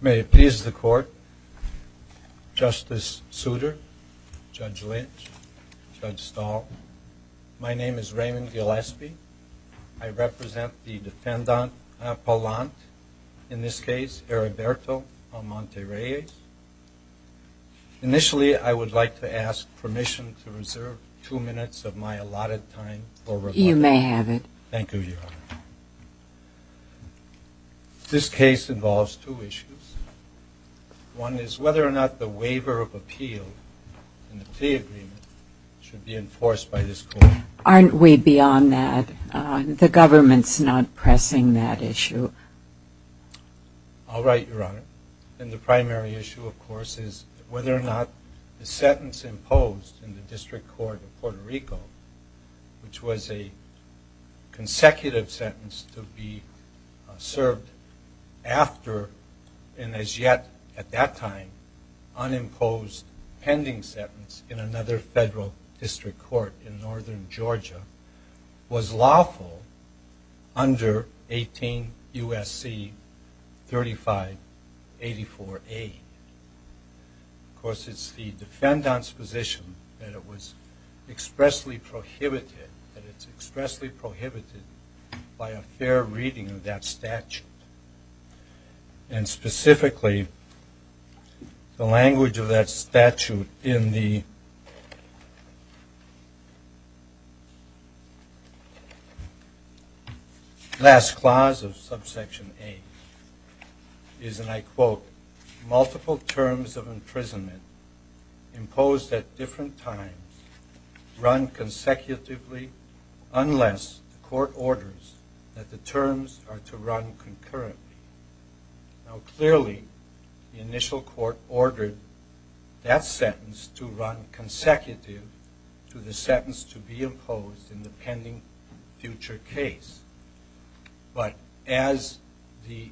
May it please the court, Justice Souter, Judge Lynch, Judge Stahl, my name is Raymond Gillespie. I represent the defendant appellant, in this case, Heriberto Almonte-Reyes. Initially, I would like to ask permission to reserve two minutes of my allotted time for rebuttal. You may have it. Thank you, Your Honor. This case involves two issues. One is whether or not the waiver of appeal in the plea agreement should be enforced by this court. Aren't we beyond that? The government's not pressing that issue. I'll write, Your Honor. And the primary issue, of course, is whether or not the sentence imposed in the District Court of Puerto Rico, which was a consecutive sentence to be served after, and as yet, at that time, unimposed pending sentence in another federal district court in northern Georgia, was lawful under 18 U.S.C. 3584A. Of course, it's the defendant's position that it was expressly prohibited, that it's expressly prohibited by a fair reading of that statute. And specifically, the language of that statute in the last clause of subsection A is, and I quote, multiple terms of imprisonment imposed at different times run consecutively unless the court orders that the terms are to run concurrently. Now, clearly, the initial court ordered that sentence to run consecutive to the sentence to be imposed in the pending future case. But as the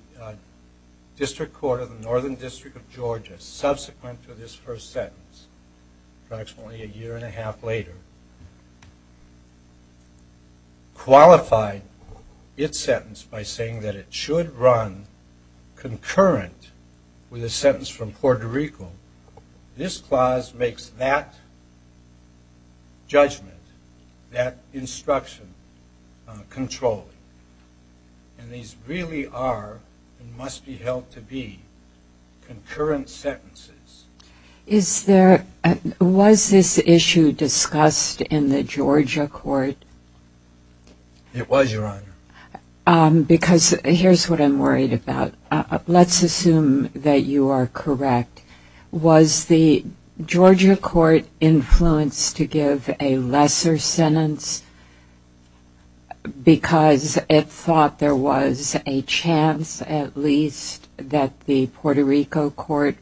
District Court of the Northern District of Georgia, subsequent to this first sentence, approximately a year and a half later, qualified its sentence by saying that it should run concurrent with a sentence from Puerto Rico, this clause makes that judgment, that instruction, controlling. And these really are and must be held to be concurrent sentences. Was this issue discussed in the Georgia court? It was, Your Honor. Because here's what I'm worried about. Let's assume that you are correct. Was the Georgia court influenced to give a lesser sentence because it thought there was a chance, at least, that the Puerto Rico court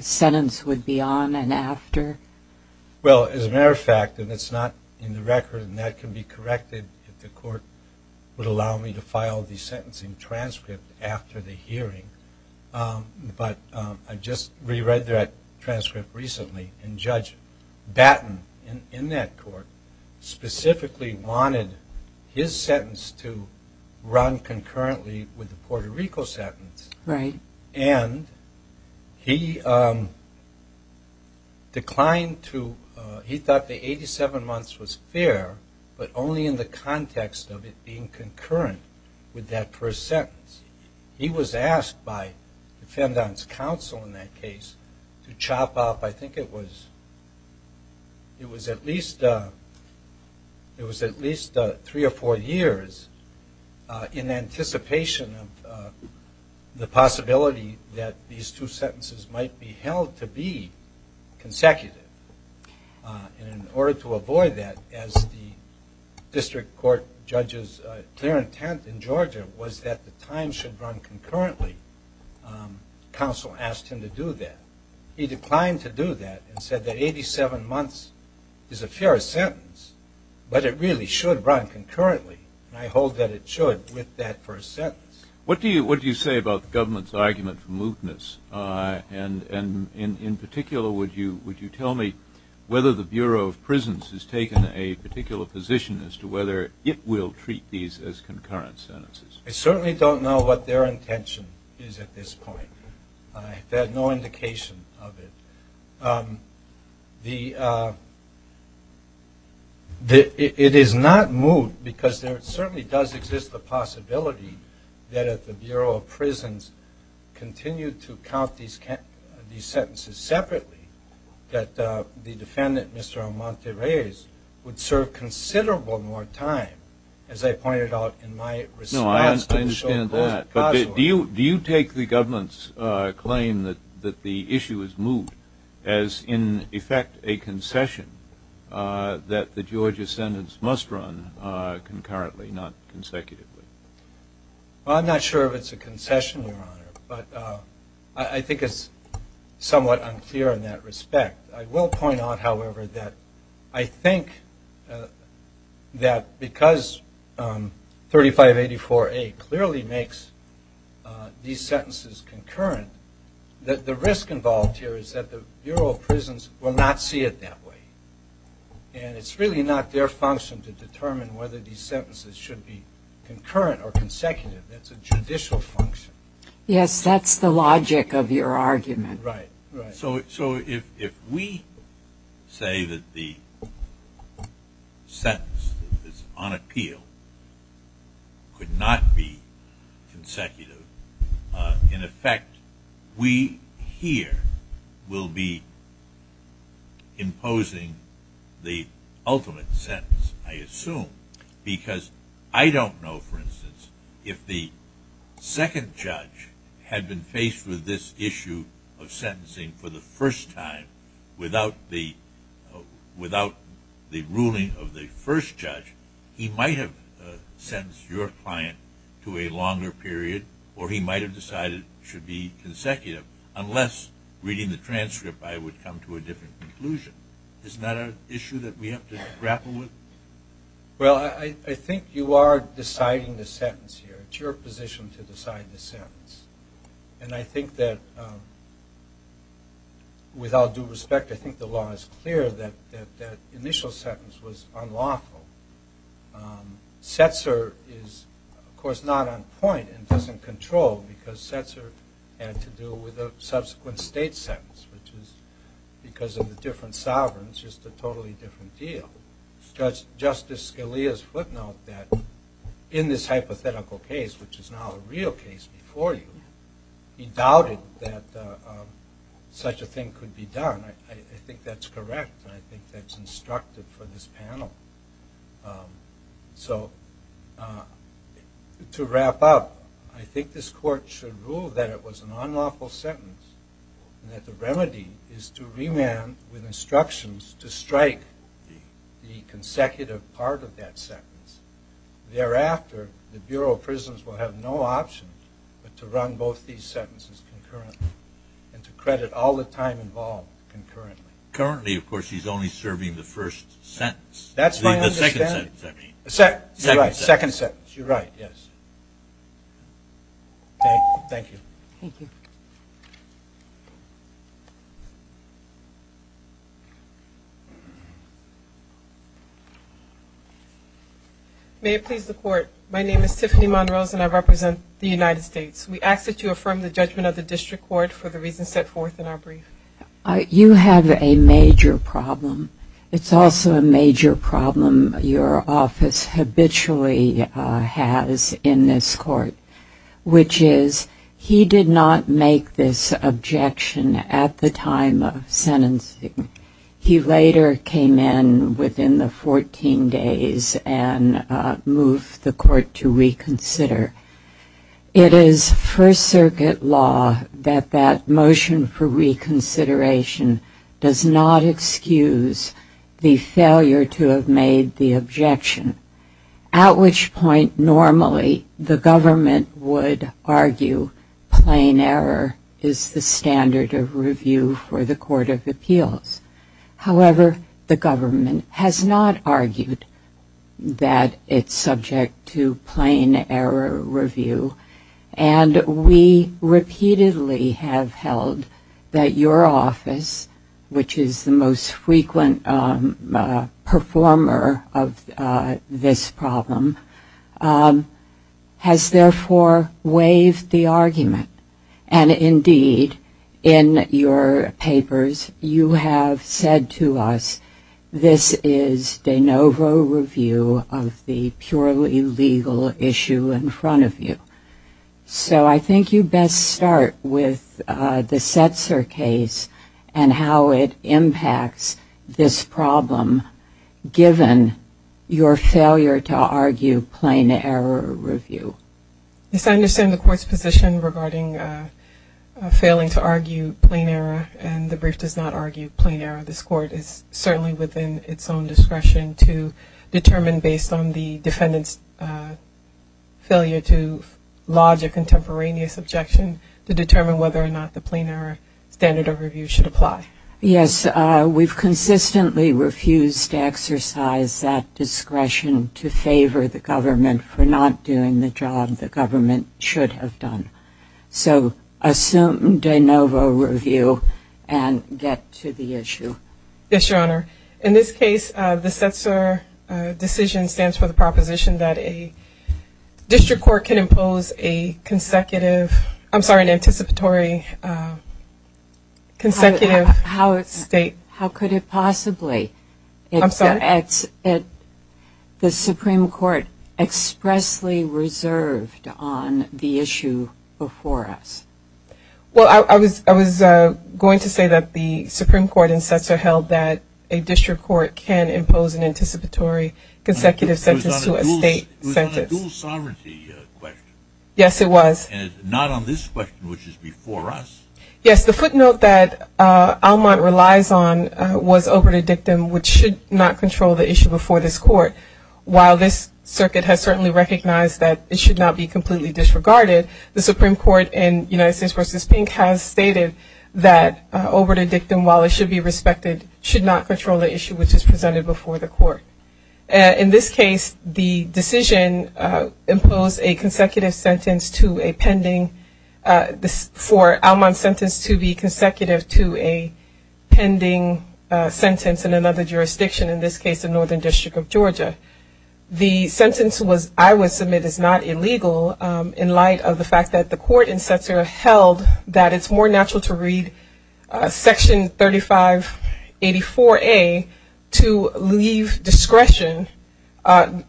sentence would be on and after? Well, as a matter of fact, and it's not in the record, and that can be corrected if the court would allow me to file the sentencing transcript after the hearing. But I just reread that transcript recently, and Judge Batten in that court specifically wanted his sentence to run concurrently with the Puerto Rico sentence. Right. And he declined to, he thought the 87 months was fair, but only in the context of it being concurrent with that first sentence. He was asked by the defendant's counsel in that case to chop off, I think it was at least three or four years, in anticipation of the possibility that these two sentences might be held to be consecutive. And in order to avoid that, as the district court judge's clear intent in Georgia was that the time should run concurrently, counsel asked him to do that. He declined to do that and said that 87 months is a fair sentence, but it really should run concurrently, and I hold that it should with that first sentence. What do you say about the government's argument for mootness? And in particular, would you tell me whether the Bureau of Prisons has taken a particular position as to whether it will treat these as concurrent sentences? I certainly don't know what their intention is at this point. I've had no indication of it. It is not moot because there certainly does exist the possibility that if the Bureau of Prisons continued to count these sentences separately, that the defendant, Mr. Amante Reyes, would serve considerable more time, as I pointed out in my response to the show. Do you take the government's claim that the issue is moot as, in effect, a concession that the Georgia sentence must run concurrently, not consecutively? I'm not sure if it's a concession, Your Honor, but I think it's somewhat unclear in that respect. I will point out, however, that I think that because 3584A clearly makes these sentences concurrent, that the risk involved here is that the Bureau of Prisons will not see it that way, and it's really not their function to determine whether these sentences should be concurrent or consecutive. That's a judicial function. Yes, that's the logic of your argument. Right, right. So if we say that the sentence that is on appeal could not be consecutive, in effect, we here will be imposing the ultimate sentence, I assume, because I don't know, for instance, if the second judge had been faced with this issue of sentencing for the first time without the ruling of the first judge, he might have sentenced your client to a longer period, or he might have decided it should be consecutive, unless, reading the transcript, I would come to a different conclusion. Isn't that an issue that we have to grapple with? Well, I think you are deciding the sentence here. It's your position to decide the sentence. And I think that, with all due respect, I think the law is clear that that initial sentence was unlawful. Setzer is, of course, not on point and doesn't control, because Setzer had to do with a subsequent state sentence, which was, because of the different sovereigns, just a totally different deal. Justice Scalia's footnote that, in this hypothetical case, which is now a real case before you, he doubted that such a thing could be done. I think that's correct, and I think that's instructive for this panel. So, to wrap up, I think this court should rule that it was an unlawful sentence and that the remedy is to remand with instructions to strike the consecutive part of that sentence. Thereafter, the Bureau of Prisons will have no option but to run both these sentences concurrently and to credit all the time involved concurrently. Currently, of course, he's only serving the first sentence. That's my understanding. The second sentence, I mean. Second sentence. Second sentence. You're right, yes. Thank you. Thank you. May it please the Court, my name is Tiffany Monrose and I represent the United States. We ask that you affirm the judgment of the District Court for the reasons set forth in our brief. You have a major problem. It's also a major problem your office habitually has in this court, which is he did not make this objection at the time of sentencing. He later came in within the 14 days and moved the court to reconsider. It is First Circuit law that that motion for reconsideration does not excuse the failure to have made the objection, at which point normally the government would argue plain error is the standard of review for the Court of Appeals. However, the government has not argued that it's subject to plain error review, and we repeatedly have held that your office, which is the most frequent performer of this problem, has therefore waived the argument. And indeed, in your papers you have said to us this is de novo review of the purely legal issue in front of you. So I think you best start with the Setzer case and how it impacts this problem, given your failure to argue plain error review. Yes, I understand the court's position regarding failing to argue plain error, and the brief does not argue plain error. This court is certainly within its own discretion to determine, based on the defendant's failure to lodge a contemporaneous objection, to determine whether or not the plain error standard of review should apply. Yes, we've consistently refused to exercise that discretion to favor the government for not doing the job the government should have done. So assume de novo review and get to the issue. Yes, Your Honor. In this case, the Setzer decision stands for the proposition that a district court can impose a consecutive, I'm sorry, an anticipatory consecutive state. How could it possibly? I'm sorry? The Supreme Court expressly reserved on the issue before us. Well, I was going to say that the Supreme Court in Setzer held that a district court can impose an anticipatory consecutive sentence to a state sentence. It was on a dual sovereignty question. Yes, it was. And it's not on this question, which is before us. Yes, the footnote that Almont relies on was oberta dictum, which should not control the issue before this court. While this circuit has certainly recognized that it should not be completely disregarded, the Supreme Court in United States v. Pink has stated that oberta dictum, while it should be respected, should not control the issue which is presented before the court. In this case, the decision imposed a consecutive sentence to a pending, for Almont's sentence to be consecutive to a pending sentence in another jurisdiction, in this case the Northern District of Georgia. The sentence was, I would submit, is not illegal in light of the fact that the court in Setzer held that it's more natural to read Section 3584A to leave discretion, to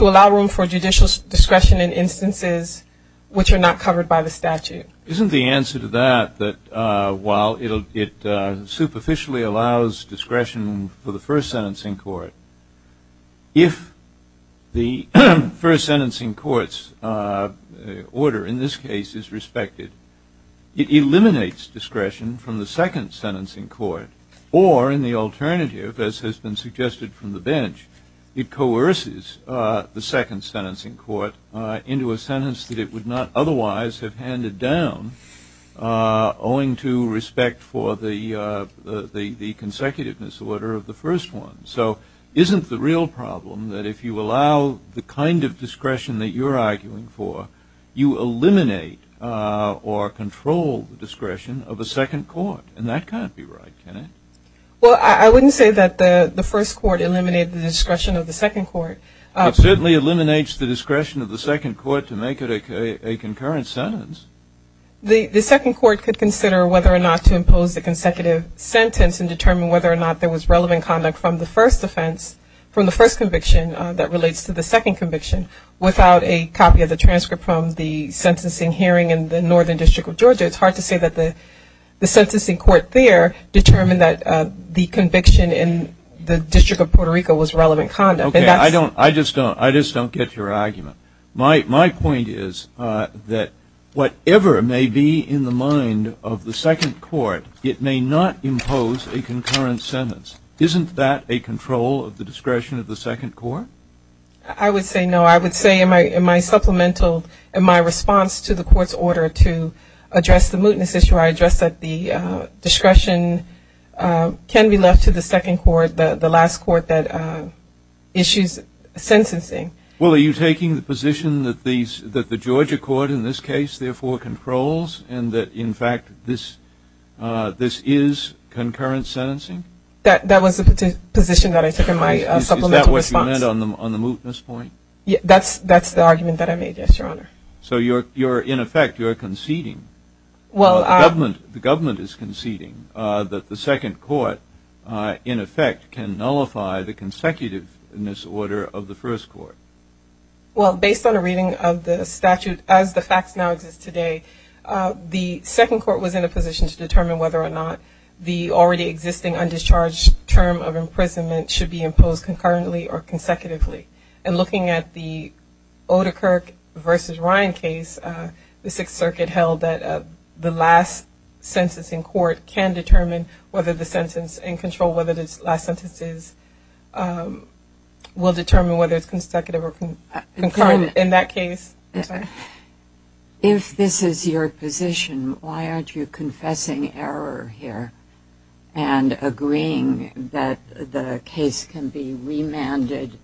allow room for judicial discretion in instances which are not covered by the statute. Isn't the answer to that that while it superficially allows discretion for the first sentencing court, if the first sentencing court's order in this case is respected, it eliminates discretion from the second sentencing court, or in the alternative, as has been suggested from the bench, it coerces the second sentencing court into a sentence that it would not otherwise have handed down, owing to respect for the consecutive disorder of the first one. So isn't the real problem that if you allow the kind of discretion that you're arguing for, you eliminate or control the discretion of a second court? And that can't be right, can it? Well, I wouldn't say that the first court eliminated the discretion of the second court. It certainly eliminates the discretion of the second court to make it a concurrent sentence. The second court could consider whether or not to impose a consecutive sentence and determine whether or not there was relevant conduct from the first offense, from the first conviction that relates to the second conviction, without a copy of the transcript from the sentencing hearing in the Northern District of Georgia. It's hard to say that the sentencing court there determined that the conviction in the District of Puerto Rico was relevant conduct. Okay. I just don't get your argument. My point is that whatever may be in the mind of the second court, it may not impose a concurrent sentence. Isn't that a control of the discretion of the second court? I would say no. I would say in my supplemental, in my response to the court's order to address the mootness issue, I addressed that the discretion can be left to the second court, the last court that issues sentencing. Well, are you taking the position that the Georgia court in this case, therefore, controls and that, in fact, this is concurrent sentencing? That was the position that I took in my supplemental response. Is that what you meant on the mootness point? That's the argument that I made, yes, Your Honor. So you're, in effect, you're conceding, the government is conceding, that the second court, in effect, can nullify the consecutiveness order of the first court. Well, based on a reading of the statute, as the facts now exist today, the second court was in a position to determine whether or not the already existing undischarged term of imprisonment should be imposed concurrently or consecutively. And looking at the Oedekerk v. Ryan case, the Sixth Circuit held that the last sentencing court can determine whether the sentence and control whether the last sentence is, will determine whether it's consecutive or concurrent in that case. If this is your position, why aren't you confessing error here and agreeing that the case can be remanded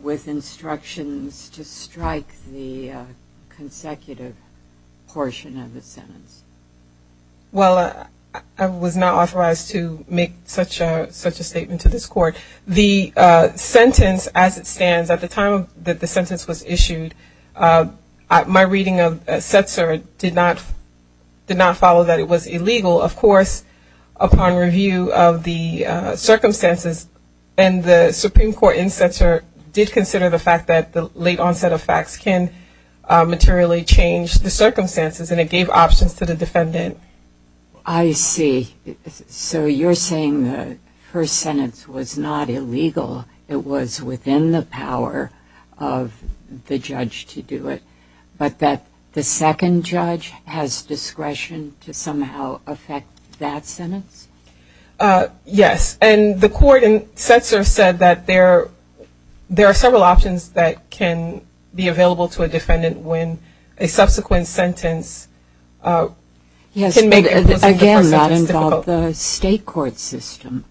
with instructions to strike the consecutive portion of the sentence? Well, I was not authorized to make such a statement to this court. The sentence as it stands, at the time that the sentence was issued, my reading of Setzer did not follow that it was illegal. Of course, upon review of the circumstances, and the Supreme Court in Setzer did consider the fact that the late onset of facts can materially change the circumstances, and it gave options to the defendant. I see. So you're saying the first sentence was not illegal. It was within the power of the judge to do it, but that the second judge has discretion to somehow affect that sentence? Yes. And the court in Setzer said that there are several options that can be available to a defendant when a subsequent sentence can make it difficult. Yes, but again, that involved the state court system.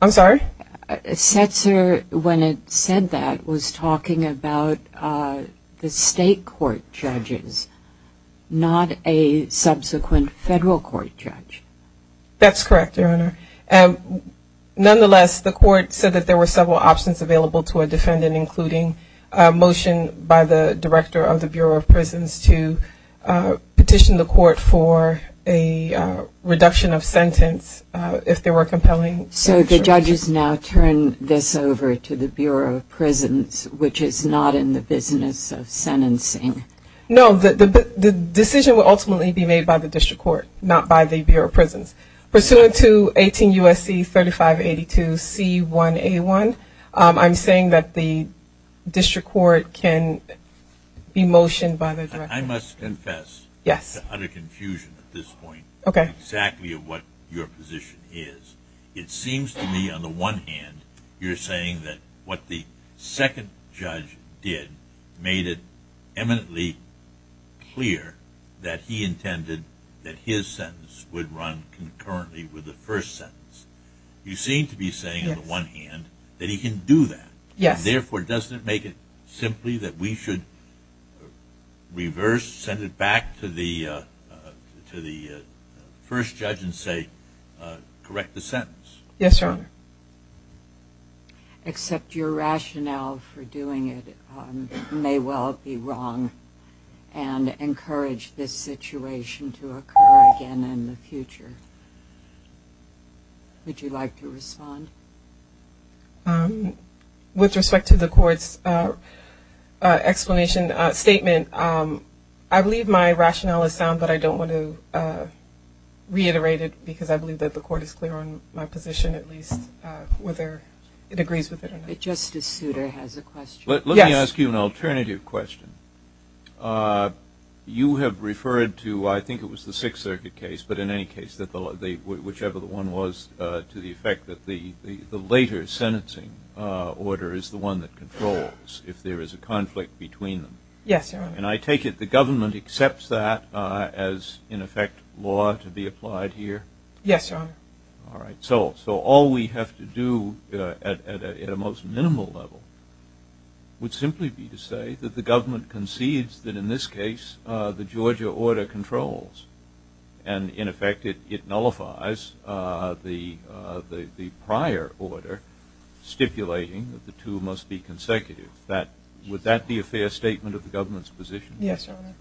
I'm sorry? Setzer, when it said that, was talking about the state court judges, not a subsequent federal court judge. That's correct, Your Honor. Nonetheless, the court said that there were several options available to a defendant, including a motion by the director of the Bureau of Prisons to petition the court for a reduction of sentence if there were compelling factors. So the judges now turn this over to the Bureau of Prisons, which is not in the business of sentencing. No, the decision will ultimately be made by the district court, not by the Bureau of Prisons. Pursuant to 18 U.S.C. 3582 C1A1, I'm saying that the district court can be motioned by the director. I must confess. Yes. I'm in utter confusion at this point of exactly what your position is. It seems to me, on the one hand, you're saying that what the second judge did made it eminently clear that he intended that his sentence would run concurrently with the first sentence. You seem to be saying, on the one hand, that he can do that. Yes. Therefore, doesn't it make it simply that we should reverse, send it back to the first judge and say, correct the sentence? Yes, Your Honor. Except your rationale for doing it may well be wrong and encourage this situation to occur again in the future. Would you like to respond? With respect to the court's explanation statement, I believe my rationale is sound, but I don't want to reiterate it because I believe that the court is clear on my position, at least, whether it agrees with it or not. But Justice Souter has a question. Yes. Let me ask you an alternative question. You have referred to, I think it was the Sixth Circuit case, but in any case, whichever the one was, to the effect that the later sentencing order is the one that controls if there is a conflict between them. Yes, Your Honor. And I take it the government accepts that as, in effect, law to be applied here? Yes, Your Honor. All right. And, in effect, it nullifies the prior order stipulating that the two must be consecutive. Would that be a fair statement of the government's position? Yes, Your Honor.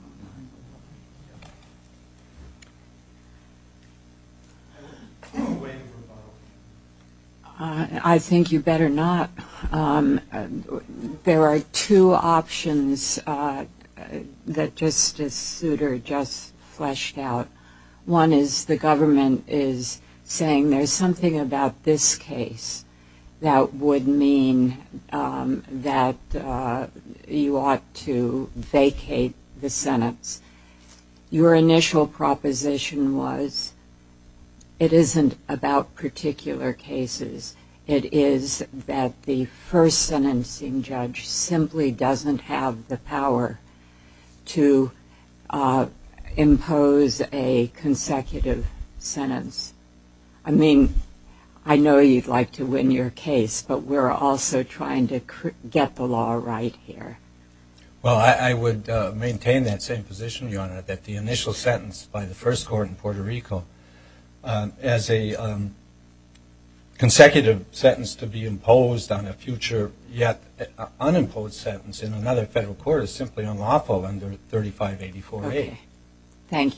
I think you better not. There are two options that Justice Souter just fleshed out. One is the government is saying there's something about this case that would mean that you ought to vacate the sentence. Your initial proposition was it isn't about particular cases. It is that the first sentencing judge simply doesn't have the power to impose a consecutive sentence. I mean, I know you'd like to win your case, but we're also trying to get the law right here. Well, I would maintain that same position, Your Honor, that the initial sentence by the first court in Puerto Rico as a consecutive sentence to be imposed on a future yet unimposed sentence in another federal court is simply unlawful under 3584A. Okay. Thank you.